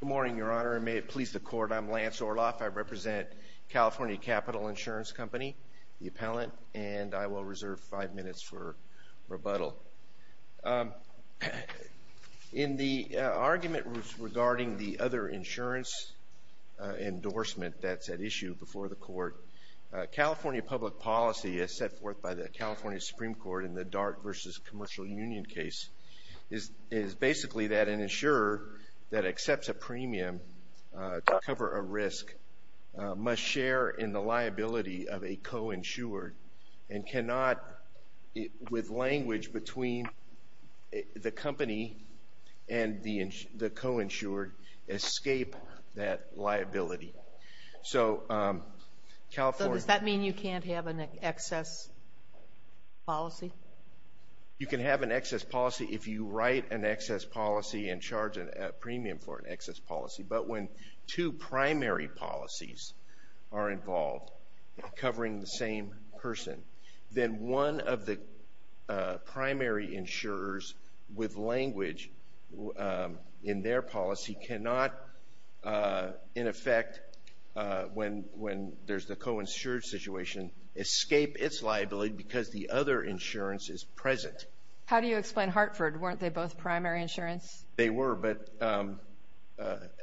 Good morning, Your Honor, and may it please the Court, I'm Lance Orloff. I represent California Capital Insurance Company, the appellant, and I will reserve five minutes for rebuttal. In the argument regarding the other insurance endorsement that's at issue before the Court, California public policy is set forth by the California Supreme Court in the Dart v. Commercial Union case is basically that an insurer that accepts a premium to cover a risk must share in the liability of a co-insured and cannot, with language between the company and the co-insured, escape that liability. So California... Does that mean you can't have an excess policy? You can have an excess policy if you write an excess policy and charge a premium for an excess policy, but when two primary policies are involved covering the same person, then one of the primary insurers with language in their policy cannot, in effect, when there's the co-insured situation, escape its liability because the other insurance is present. How do you explain Hartford? Weren't they both primary insurance? They were, but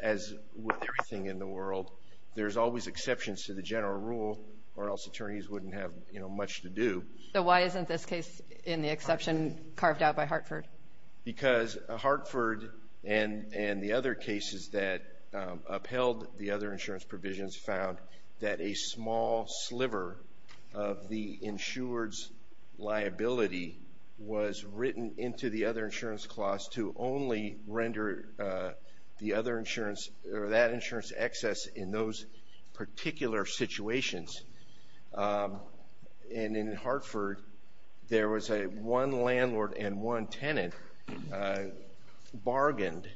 as with everything in the world, there's always exceptions to the general rule or else attorneys wouldn't have, you know, much to do. So why isn't this case in the exception carved out by Hartford? Because Hartford and the other cases that a small sliver of the insured's liability was written into the other insurance clause to only render the other insurance or that insurance excess in those particular situations. And in Hartford, there was a one landlord and one tenant bargained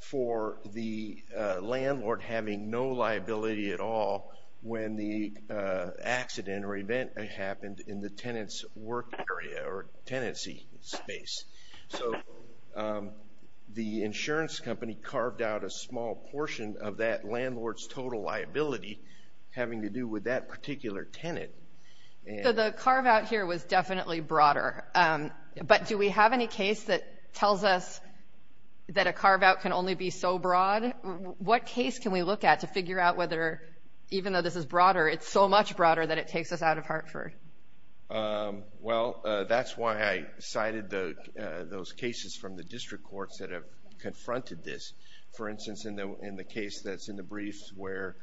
for the landlord having no liability at all when the accident or event happened in the tenant's work area or tenancy space. So the insurance company carved out a small portion of that landlord's total liability having to do with that particular tenant. So the carve out here was definitely broader. But do we have any case that tells us that a carve out can only be so broad? What case can we look at to figure out whether, even though this is broader, it's so much broader that it takes us out of Hartford? Well, that's why I cited those cases from the district courts that have confronted this. For instance, in the case that's in the briefs where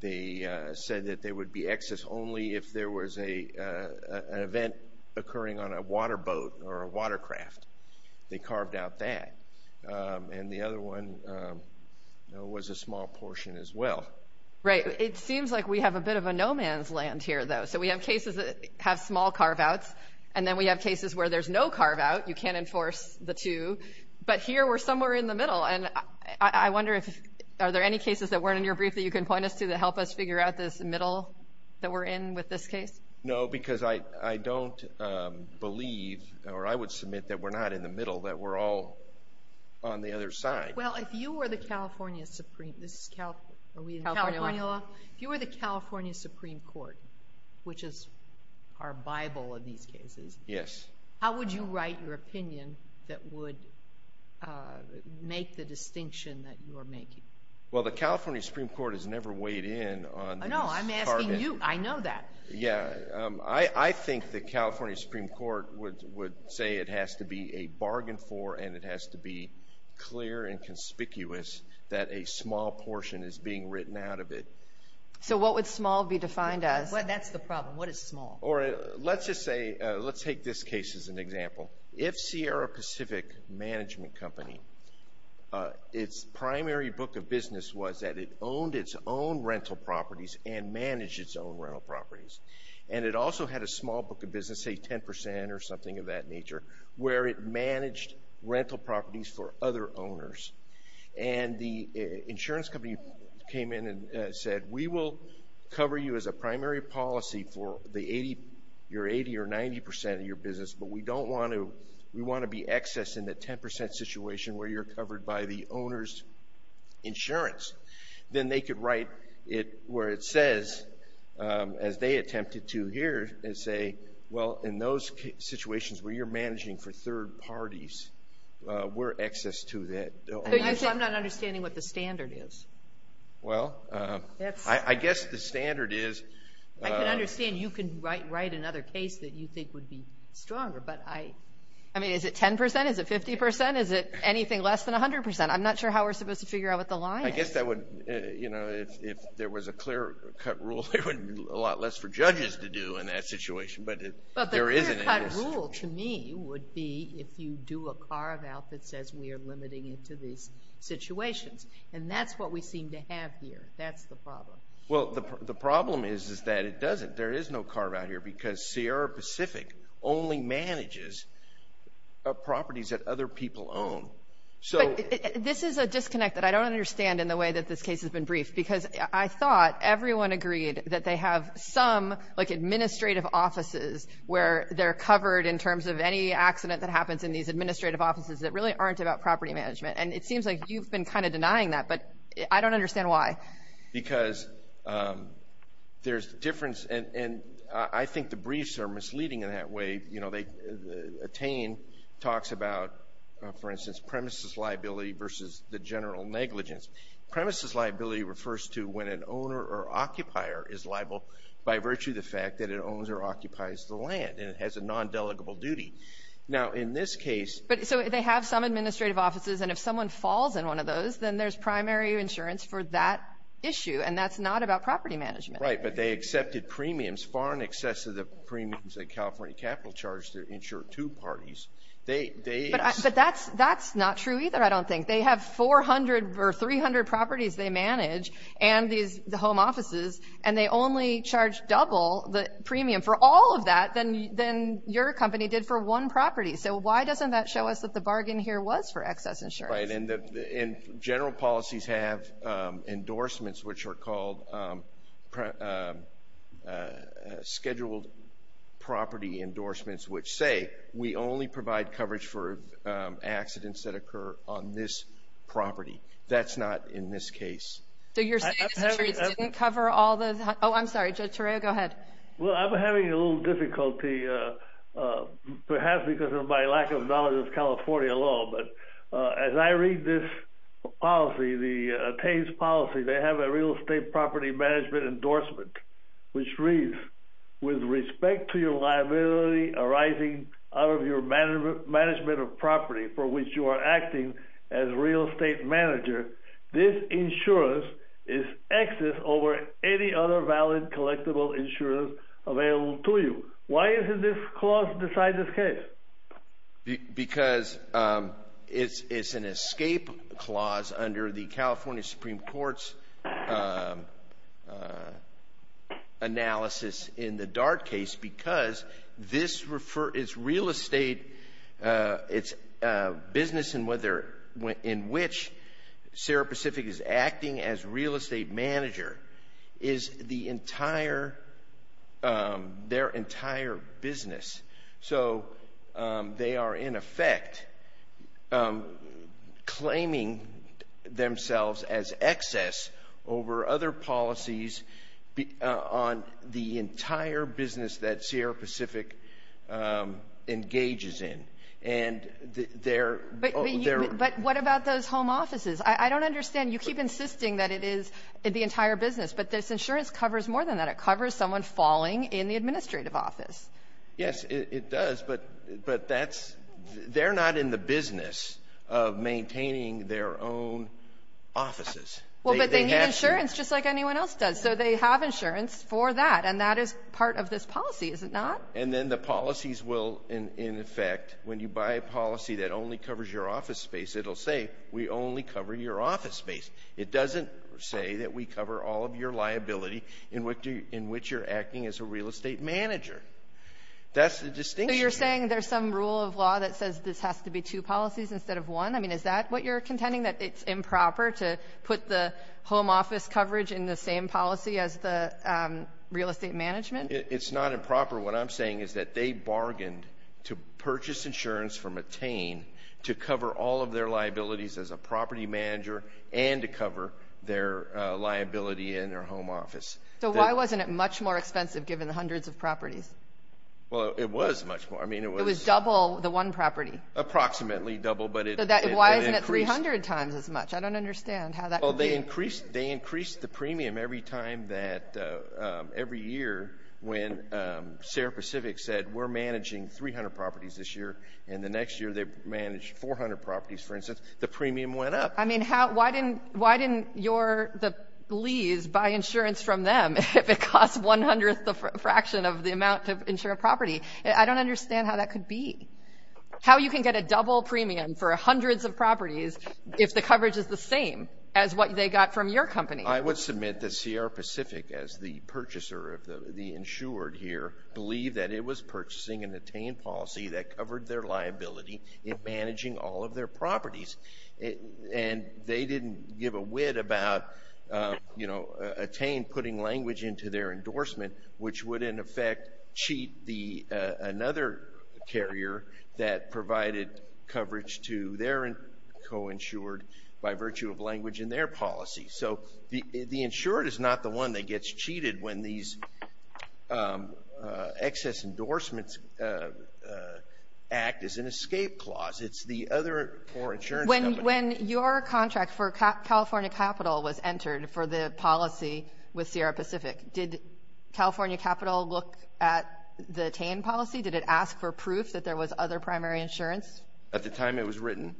they said that there would be excess only if there was an event occurring on a water boat or a water craft. They carved out that. And the other one was a small portion as well. Right. It seems like we have a bit of a no man's land here, though. So we have cases that have small carve outs. And then we have cases where there's no carve out. You can't enforce the two. But here we're somewhere in the middle. And I wonder if are there any cases that weren't in your brief that you can point us to that help us figure out this middle that we're in with this case? No, because I don't believe, or I would submit that we're not in the middle, that we're all on the other side. Well, if you were the California Supreme Court, which is our Bible in these cases, how would you write your opinion that would make the distinction that you're making? Well, the California Supreme Court has never weighed in on these targets. No, I'm asking you. I know that. Yeah, I think the California Supreme Court would say it has to be a bargain for and it has to be clear and conspicuous that a small portion is being written out of it. So what would small be defined as? That's the problem. What is small? Or let's just say, let's take this case as an example. If Sierra Pacific Management Company, its primary book of business was that it owned its own rental properties and managed its own rental properties. And it also had a small book of business, say 10% or something of that nature, where it managed rental properties for other owners. And the insurance company came in and said, we will cover you as a primary policy for the 80, your 80 or 90 percent of your business, but we don't want to, we want to be excess in the 10% situation where you're covered by the insurance. Then they could write it where it says, as they attempted to here, and say, well in those situations where you're managing for third parties, we're excess to that. I'm not understanding what the standard is. Well, I guess the standard is... I can understand you can write another case that you think would be stronger, but I, I mean is it 10%? Is it 50%? Is it anything less than 100%? I'm not sure how we're supposed to figure out what the line is. I guess that would, you know, if there was a clear-cut rule, there would be a lot less for judges to do in that situation, but there isn't. But the clear-cut rule to me would be if you do a carve-out that says we are limiting it to these situations. And that's what we seem to have here. That's the problem. Well, the problem is, is that it doesn't. There is no carve-out here because Sierra Pacific only manages properties that other people own. So... This is a disconnect that I don't understand in the way that this case has been briefed, because I thought everyone agreed that they have some, like administrative offices, where they're covered in terms of any accident that happens in these administrative offices that really aren't about property management. And it seems like you've been kind of denying that, but I don't understand why. Because there's a difference, and I think the briefs are misleading in that way. You know, Attain talks about, for instance, premises liability versus the general negligence. Premises liability refers to when an owner or occupier is liable by virtue of the fact that it owns or occupies the land, and it has a non-delegable duty. Now, in this case... But, so they have some administrative offices, and if someone falls in one of those, then there's primary insurance for that issue, and that's not about property management. Right, but they accepted premiums far in excess of the premiums that California Capital charged to insure two parties. They... But that's not true either, I don't think. They have 400 or 300 properties they manage, and these home offices, and they only charge double the premium for all of that than your company did for one property. So why doesn't that show us that the bargain here was for excess insurance? Right, and general policies have endorsements which are called scheduled property endorsements, which say we only provide coverage for accidents that occur on this property. That's not in this case. So you're saying insurance didn't cover all the... Oh, I'm sorry. Judge Torreo, go ahead. Well, I'm having a little difficulty, perhaps because of my lack of knowledge of California law, but as I read this policy, the attains policy, they have a real estate property management endorsement, which reads, with respect to your liability arising out of your management of property for which you are acting as real estate manager, this insurance is excess over any other valid collectible insurance available to you. Why isn't this clause beside this because it's an escape clause under the California Supreme Court's analysis in the Dart case because this is real estate, it's business in which Sarah Pacific is acting as real estate manager, is the entire, their they are in effect claiming themselves as excess over other policies on the entire business that Sierra Pacific engages in. But what about those home offices? I don't understand, you keep insisting that it is the entire business, but this insurance covers more than that. It covers someone falling in the But that's, they're not in the business of maintaining their own offices. Well, but they need insurance just like anyone else does, so they have insurance for that, and that is part of this policy, is it not? And then the policies will, in effect, when you buy a policy that only covers your office space, it'll say we only cover your office space. It doesn't say that we cover all of your liability in which you're acting as a real estate manager. That's the distinction. So you're saying there's some rule of law that says this has to be two policies instead of one? I mean, is that what you're contending, that it's improper to put the home office coverage in the same policy as the real estate management? It's not improper. What I'm saying is that they bargained to purchase insurance from Attain to cover all of their liabilities as a property manager and to cover their liability in their home office. Well, it was much more. I mean, it was... It was double the one property. Approximately double, but it increased... So why isn't it 300 times as much? I don't understand how that... Well, they increased, they increased the premium every time that, every year, when Sarah Pacific said we're managing 300 properties this year, and the next year they managed 400 properties, for instance. The premium went up. I mean, how, why didn't, why didn't your, the Lees buy insurance from them if it cost one-hundredth the fraction of the amount of insured property? I don't understand how that could be. How you can get a double premium for hundreds of properties if the coverage is the same as what they got from your company? I would submit that Sierra Pacific, as the purchaser of the insured here, believed that it was purchasing an Attain policy that covered their liability in managing all of their properties. And they didn't give a wit about, you know, Attain putting language into their endorsement, which would, in effect, cheat the, another carrier that provided coverage to their co-insured by virtue of language in their policy. So the insured is not the one that gets cheated when these excess endorsements act as an escape clause. It's the other, or insurance company. When, when your contract for California Capital was entered for the policy with Sierra Pacific, did California Capital look at the Attain policy? Did it ask for proof that there was other primary insurance? At the time it was written.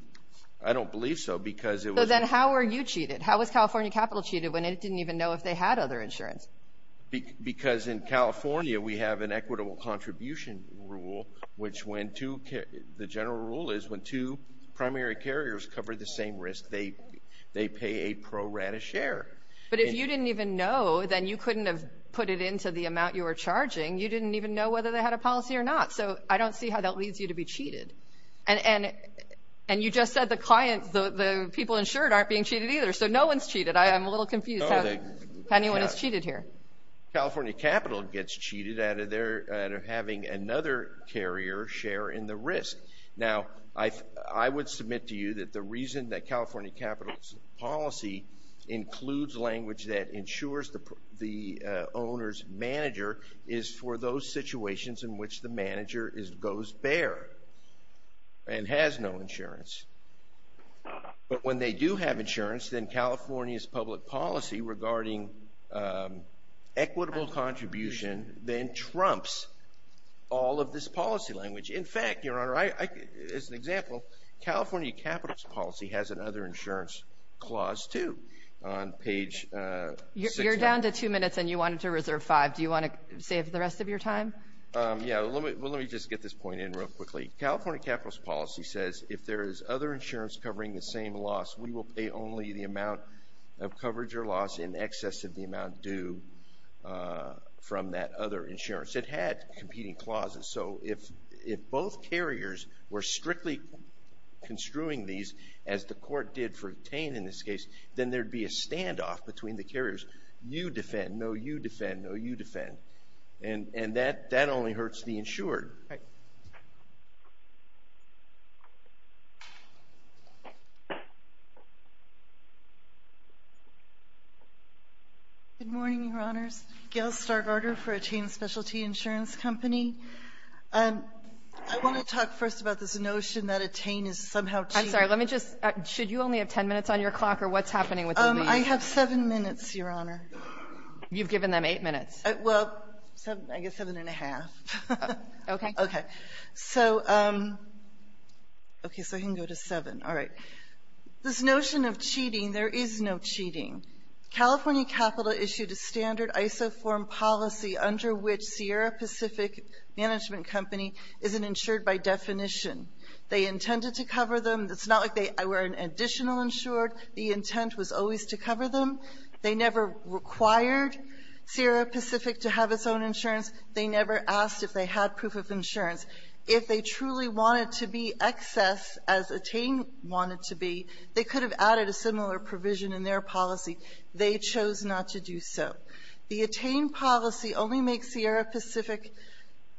I don't believe so, because it was. So then how were you cheated? How was California Capital cheated when it didn't even know if they had other insurance? Because in California we have an equitable contribution rule, which when two, the general rule is when two primary carriers cover the same risk, they, they pay a pro-rata share. But if you didn't even know, then you couldn't have put it into the amount you were charging. You didn't even know whether they had a policy or not. So I don't see how that leads you to be cheated. And, and, and you just said the client, the, the people insured aren't being cheated either. So no one's cheated. I, I'm a little confused how, how anyone is cheated here. California Capital gets cheated out of their, out of having another carrier share in the risk. Now I, I would submit to you that the reason that California Capital's policy includes language that insures the, the owner's manager is for those situations in which the manager is, goes bare and has no insurance. But when they do have insurance, then California's public policy regarding equitable contribution then trumps all of this policy language. In fact, Your Honor, I, I, as an example, California Capital's policy has another insurance clause too on page six. You're down to two minutes and you wanted to reserve five. Do you want to save the rest of your time? Yeah, let me, let me just get this point in real quickly. California Capital's policy says if there is other insurance covering the same loss, we will pay only the amount of coverage or loss in excess of the amount due from that other insurance. It had competing clauses. So if, if both carriers were strictly construing these as the court did for obtain in this case, then there'd be a standoff between the carriers. You defend, no you defend, no you defend. And, and that, that only hurts the insured. Good morning, Your Honors. Gail Stargardner for Attain Specialty Insurance Company. I want to talk first about this notion that Attain is somehow cheap. I'm sorry. Let me just, should you only have ten minutes on your clock or what's happening with the release? I have seven minutes, Your Honor. You've given them eight minutes. Well, I guess seven and a half. Okay. Okay. So, okay. So I can go to seven. All right. This notion of cheating, there is no cheating. California Capital issued a standard ISO form policy under which Sierra Pacific Management Company isn't insured by definition. They intended to cover them. It's not like they were an additional insured. The intent was always to cover them. They never required Sierra Pacific to have its own insurance. They never asked if they had proof of insurance. If they truly wanted to be excess, as Attain wanted to be, they could have added a similar provision in their policy. They chose not to do so. The Attain policy only makes Sierra Pacific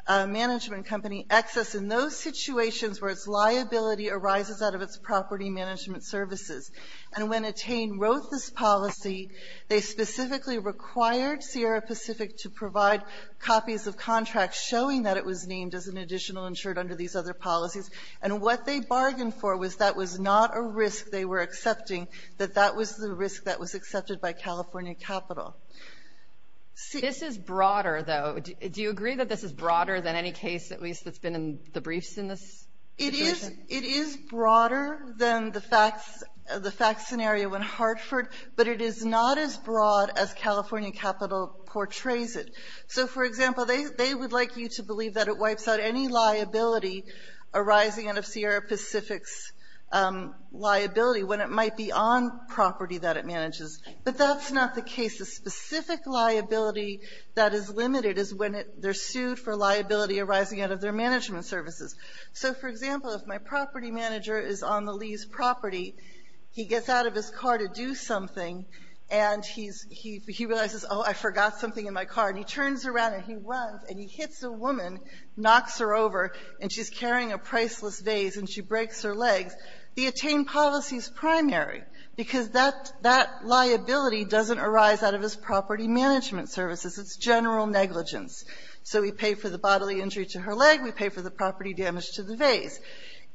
Management Company excess in those situations where its liability arises out of its property management services. And when Attain wrote this policy, they specifically required Sierra Pacific to provide copies of contracts showing that it was named as an additional insured under these other policies. And what they bargained for was that was not a risk they were accepting, that that was the risk that was accepted by California Capital. This is broader, though. Do you agree that this is broader than any case, at least, that's been in the briefs in this situation? It is broader than the fact scenario when Hartford, but it is not as broad as they phrase it. So, for example, they would like you to believe that it wipes out any liability arising out of Sierra Pacific's liability when it might be on property that it manages. But that's not the case. The specific liability that is limited is when they're sued for liability arising out of their management services. So, for example, if my property manager is on the lease property, he gets out of his car to do something, and he realizes, oh, I forgot something in my car, and he turns around and he runs and he hits a woman, knocks her over, and she's carrying a priceless vase and she breaks her legs, the attain policy is primary, because that liability doesn't arise out of his property management services. It's general negligence. So we pay for the bodily injury to her leg, we pay for the property damage to the vase.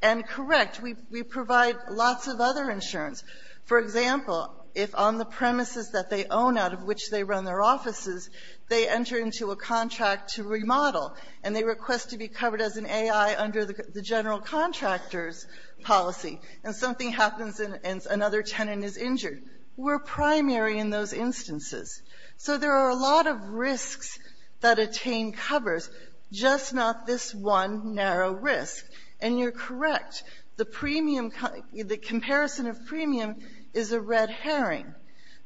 And, correct, we provide lots of other insurance. For example, if on the premises that they own out of which they run their offices, they enter into a contract to remodel, and they request to be covered as an A.I. under the general contractor's policy, and something happens and another tenant is injured, we're primary in those instances. So there are a lot of risks that attain covers, just not this one narrow risk. And you're correct. The premium, the comparison of premium is a red herring,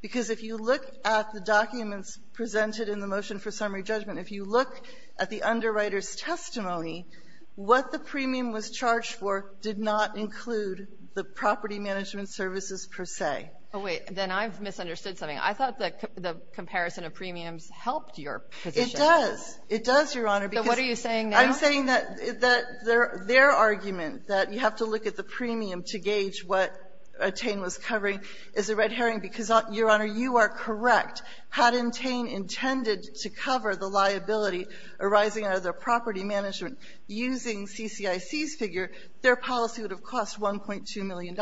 because if you look at the documents presented in the motion for summary judgment, if you look at the underwriter's testimony, what the premium was charged for did not include the property management services per se. Oh, wait. Then I've misunderstood something. I thought that the comparison of premiums helped your position. It does. It does, Your Honor, because they're arguing that you have to look at the premium to gauge what attain was covering is a red herring, because, Your Honor, you are correct. Had attain intended to cover the liability arising out of their property management using CCIC's figure, their policy would have cost $1.2 million.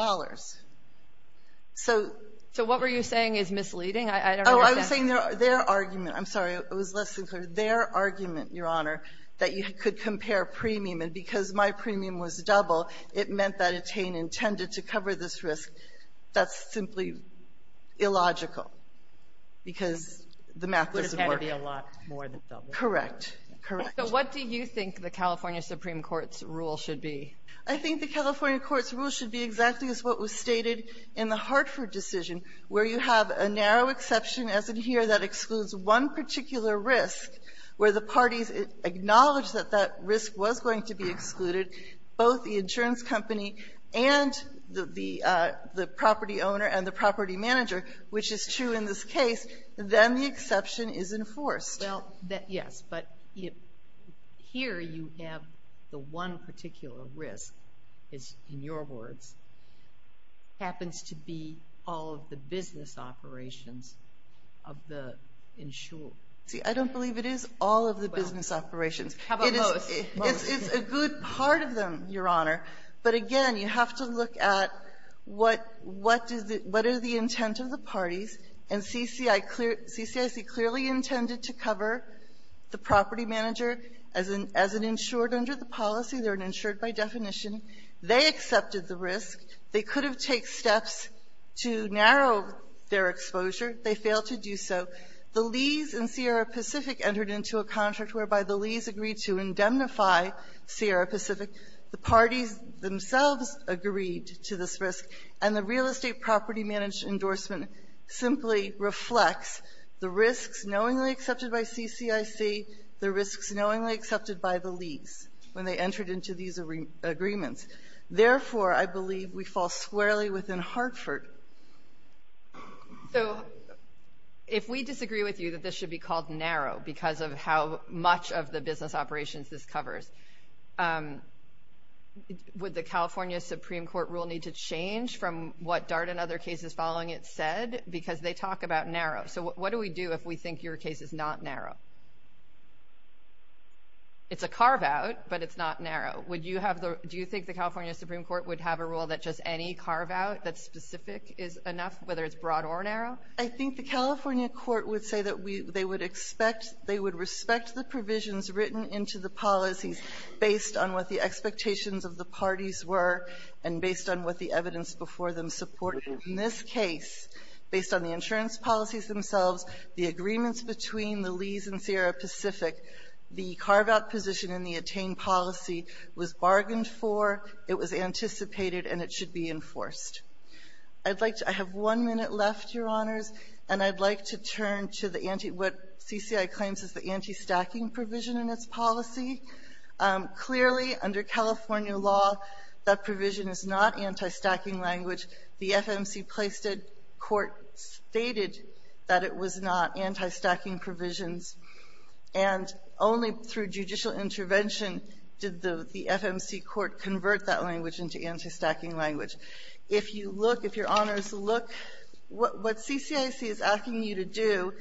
So what were you saying is misleading? I don't understand. Oh, I was saying their argument. I'm sorry. It was less than clear. Their argument, Your Honor, that you could compare premium, and because my premium was double, it meant that attain intended to cover this risk, that's simply illogical, because the math doesn't work. It would have had to be a lot more than double. Correct. Correct. So what do you think the California Supreme Court's rule should be? I think the California Court's rule should be exactly as what was stated in the Hartford decision, where you have a narrow exception, as in here, that excludes one particular risk, where the parties acknowledge that that risk was going to be excluded, both the insurance company and the property owner and the property manager, which is true in this case, then the exception is enforced. Well, yes, but here you have the one particular risk, in your words, happens to be all of the business operations of the insurer. See, I don't believe it is all of the business operations. How about most? It's a good part of them, Your Honor. But again, you have to look at what are the intent of the parties. And CCIC clearly intended to cover the property manager as an insured under the policy. They're an insured by definition. They accepted the risk. They could have taken steps to narrow their exposure. They failed to do so. The Lees and Sierra Pacific entered into a contract whereby the Lees agreed to indemnify Sierra Pacific. The parties themselves agreed to this risk. And the real estate property management endorsement simply reflects the risks knowingly accepted by CCIC, the risks knowingly accepted by the Lees when they entered into these agreements. Therefore, I believe we fall squarely within Hartford. So, if we disagree with you that this should be called narrow because of how much of the business operations this covers, would the California Supreme Court rule need to change from what Dart and other cases following it said? Because they talk about narrow. So what do we do if we think your case is not narrow? It's a carve out, but it's not narrow. Would you have the, do you think the California Supreme Court would have a rule that just any carve out that's specific is enough, whether it's broad or narrow? I think the California court would say that we, they would expect, they would respect the provisions written into the policies based on what the expectations of the parties were and based on what the evidence before them supported. In this case, based on the insurance policies themselves, the agreements between the Lees and Sierra Pacific, the carve out position in the attained policy was bargained for, it was anticipated, and it should be enforced. I'd like to, I have one minute left, Your Honors, and I'd like to turn to the anti, what CCI claims is the anti-stacking provision in its policy. Clearly, under California law, that provision is not anti-stacking language. The FMC placed it, court stated that it was not anti-stacking provisions. And only through judicial intervention did the FMC court convert that language into anti-stacking language. If you look, if Your Honors look, what CCIC is asking you to do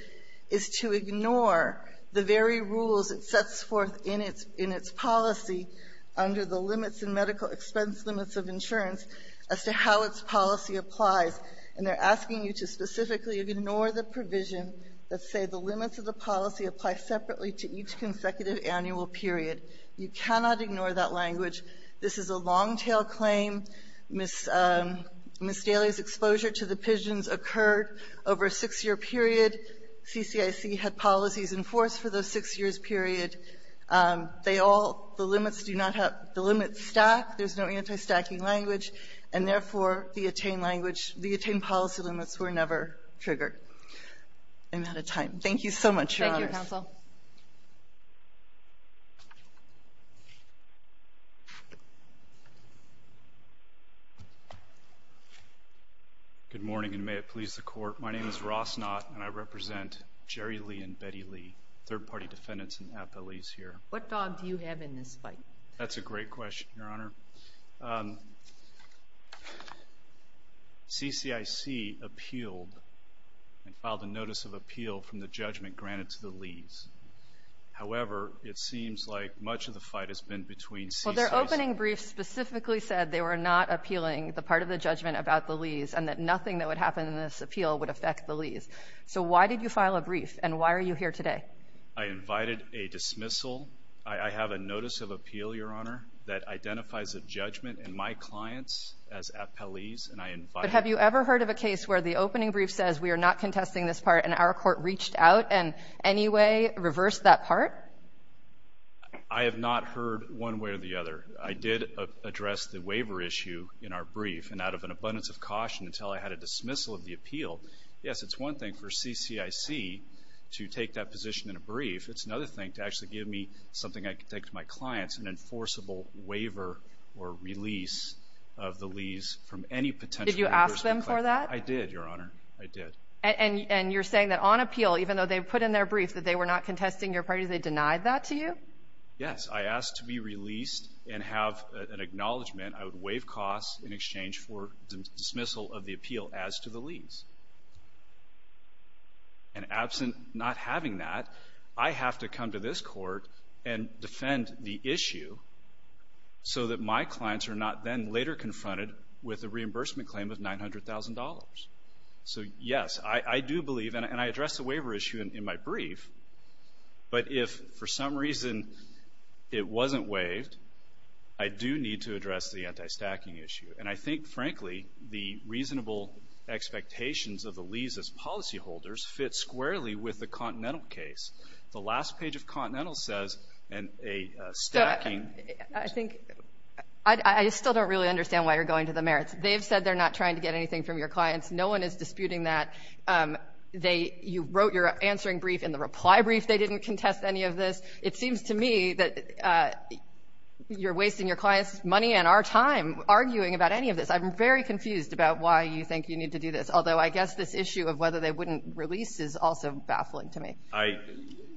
is to ignore the very rules it sets forth in its, in its policy under the limits and medical expense limits of insurance as to how its policy applies. And they're asking you to specifically ignore the provision that say the limits of the policy apply separately to each consecutive annual period. You cannot ignore that language. This is a long-tail claim. Ms. Daly's exposure to the pigeons occurred over a six-year period. CCIC had policies enforced for those six years period. They all, the limits do not have, the limits stack. There's no anti-stacking language. And therefore, the attained language, the attained policy limits were never triggered. I'm out of time. Thank you so much, Your Honors. Thank you, Counsel. Good morning, and may it please the Court. My name is Ross Knott, and I represent Jerry Lee and Betty Lee, third-party defendants and appellees here. What dog do you have in this fight? That's a great question, Your Honor. CCIC appealed and filed a notice of appeal from the judgment granted to the Lees. However, it seems like much of the fight has been between CCIC. Well, their opening brief specifically said they were not appealing the part of the judgment about the Lees, and that nothing that would happen in this appeal would affect the Lees. So why did you file a brief, and why are you here today? I invited a dismissal. I have a notice of appeal, Your Honor, that identifies a judgment in my clients as appellees, and I invited them. But have you ever heard of a case where the opening brief says we are not contesting this part, and our court reached out and anyway reversed that part? I have not heard one way or the other. I did address the waiver issue in our brief, and out of an abundance of caution until I had a dismissal of the appeal. Yes, it's one thing for CCIC to take that position in a brief. It's another thing to actually give me something I can take to my clients, an enforceable waiver or release of the Lees from any potential... Did you ask them for that? I did, Your Honor. I did. And you're saying that on appeal, even though they put in their brief that they were not contesting your party, they denied that to you? Yes. I asked to be released and have an acknowledgment. I would waive costs in exchange for dismissal of the appeal as to the Lees. And absent not having that, I have to come to this court and defend the issue so that my clients are not then later confronted with a reimbursement claim of $900,000. So yes, I do believe, and I addressed the waiver issue in my brief, but if for some reason it wasn't waived, I do need to address the anti-stacking issue. And I think, frankly, the reasonable expectations of the Lees as policyholders fit squarely with the Continental case. The last page of Continental says a stacking... I still don't really understand why you're going to the merits. They've said they're not trying to get anything from your clients. No one is disputing that. You wrote your answering brief in the reply brief. They didn't contest any of this. It seems to me that you're wasting your clients' money and our time arguing about any of this. I'm very confused about why you think you need to do this, although I guess this issue of whether they wouldn't release is also baffling to me.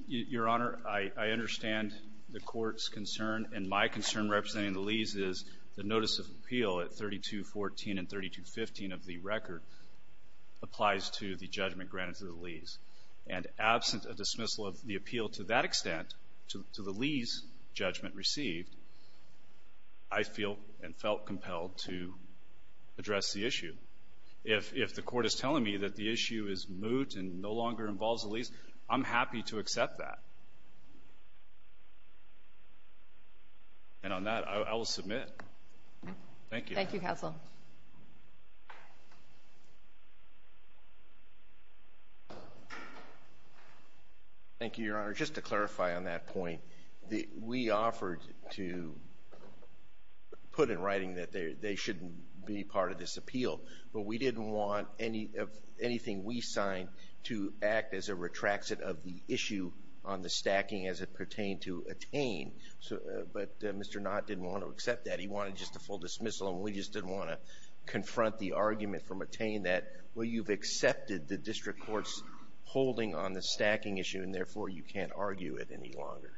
Your Honor, I understand the Court's concern, and my concern representing the Lees is the notice of appeal at 3214 and 3215 of the record applies to the judgment granted to the Lees. And absent a dismissal of the appeal to that extent to the Lees' judgment received, I feel and felt compelled to address the issue. If the Court is telling me that the issue is moot and no longer involves the Lees, I'm happy to accept that. And on that, I will submit. Thank you. Thank you, Counsel. Thank you, Your Honor. Just to clarify on that point, we offered to put in writing that they shouldn't be part of this appeal. But we didn't want anything we signed to act as a retraction of the issue on the stacking as it pertained to attain. But Mr. Knott didn't want to accept that. He wanted just a full dismissal, and we just didn't want to confront the argument from attain that, well, you've accepted the District Court's holding on the stacking issue, and therefore, you can't argue it any longer.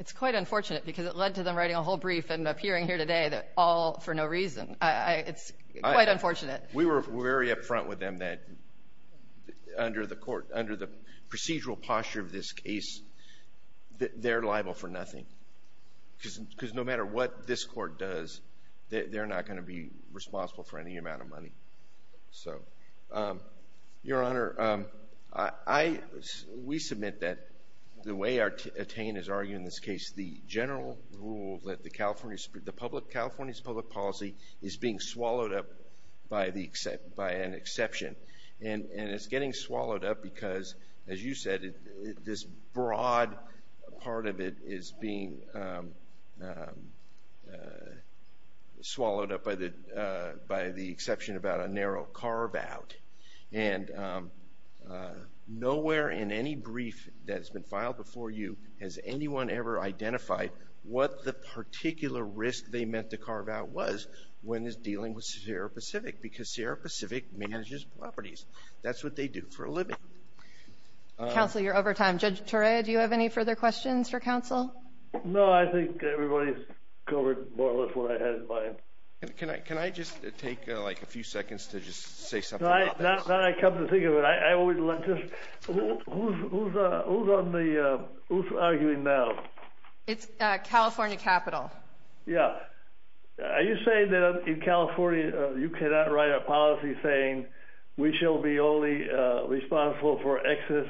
It's quite unfortunate, because it led to them writing a whole brief and appearing here today, all for no reason. It's quite unfortunate. We were very upfront with them that under the procedural posture of this case, they're liable for nothing. Because no matter what this Court does, they're not going to be responsible for any amount of money. So, Your Honor, we submit that the way attain is arguing this case, the general rule that California's public policy is being swallowed up by an exception. And it's getting swallowed up because, as you said, this broad part of it is being swallowed up by the exception about a narrow carve-out. And nowhere in any brief that's been filed before you has anyone ever identified what the particular risk they meant to carve out was when it's dealing with Sierra Pacific, because Sierra Pacific manages properties. That's what they do for a living. Counsel, you're over time. Judge Torre, do you have any further questions for counsel? No, I think everybody's covered more or less what I had in mind. Can I just take, like, a few seconds to just say something about this? Now that I come to think of it, who's arguing now? It's California Capitol. Yeah. Are you saying that in California you cannot write a policy saying we shall be only responsible for excess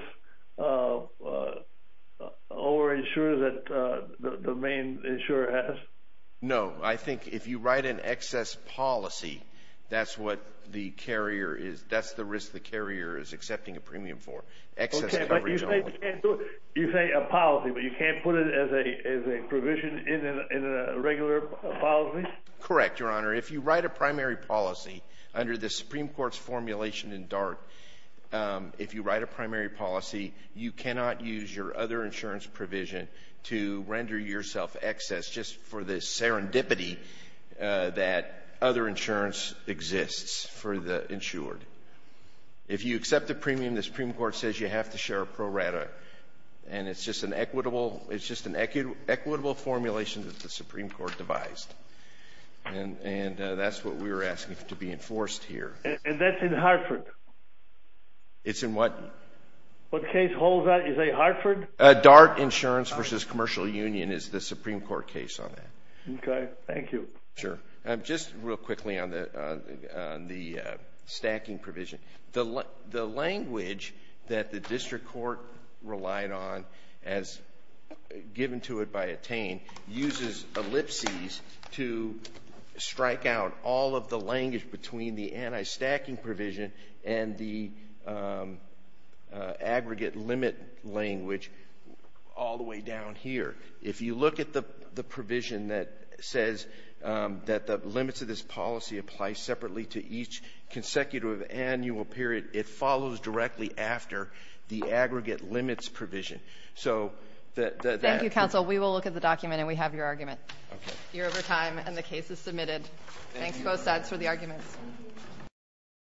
over-insurance that the main insurer has? No. I think if you write an excess policy, that's what the carrier is, that's the risk the carrier is accepting a premium for. Okay, but you say a policy, but you can't put it as a provision in a regular policy? Correct, Your Honor. If you write a primary policy under the Supreme Court's formulation in DART, if you write a primary policy, you cannot use your other insurance provision to render yourself excess just for the serendipity that other insurance exists for the insured. If you accept the premium, the Supreme Court says you have to share a pro rata, and it's just an equitable formulation that the Supreme Court devised. And that's what we were asking to be enforced here. And that's in Hartford? It's in what? What case holds that? Is it Hartford? DART Insurance versus Commercial Union is the Supreme Court case on that. Okay, thank you. Sure. Just real quickly on the stacking provision. The language that the district court relied on as given to it by Attain uses ellipses to strike out all of the language between the anti-stacking provision and the aggregate limit language all the way down here. If you look at the provision that says that the limits of this policy apply separately to each consecutive annual period, it follows directly after the aggregate limits provision. Thank you, counsel. We will look at the document and we have your argument. You're over time and the case is submitted. Thanks, both sides, for the arguments.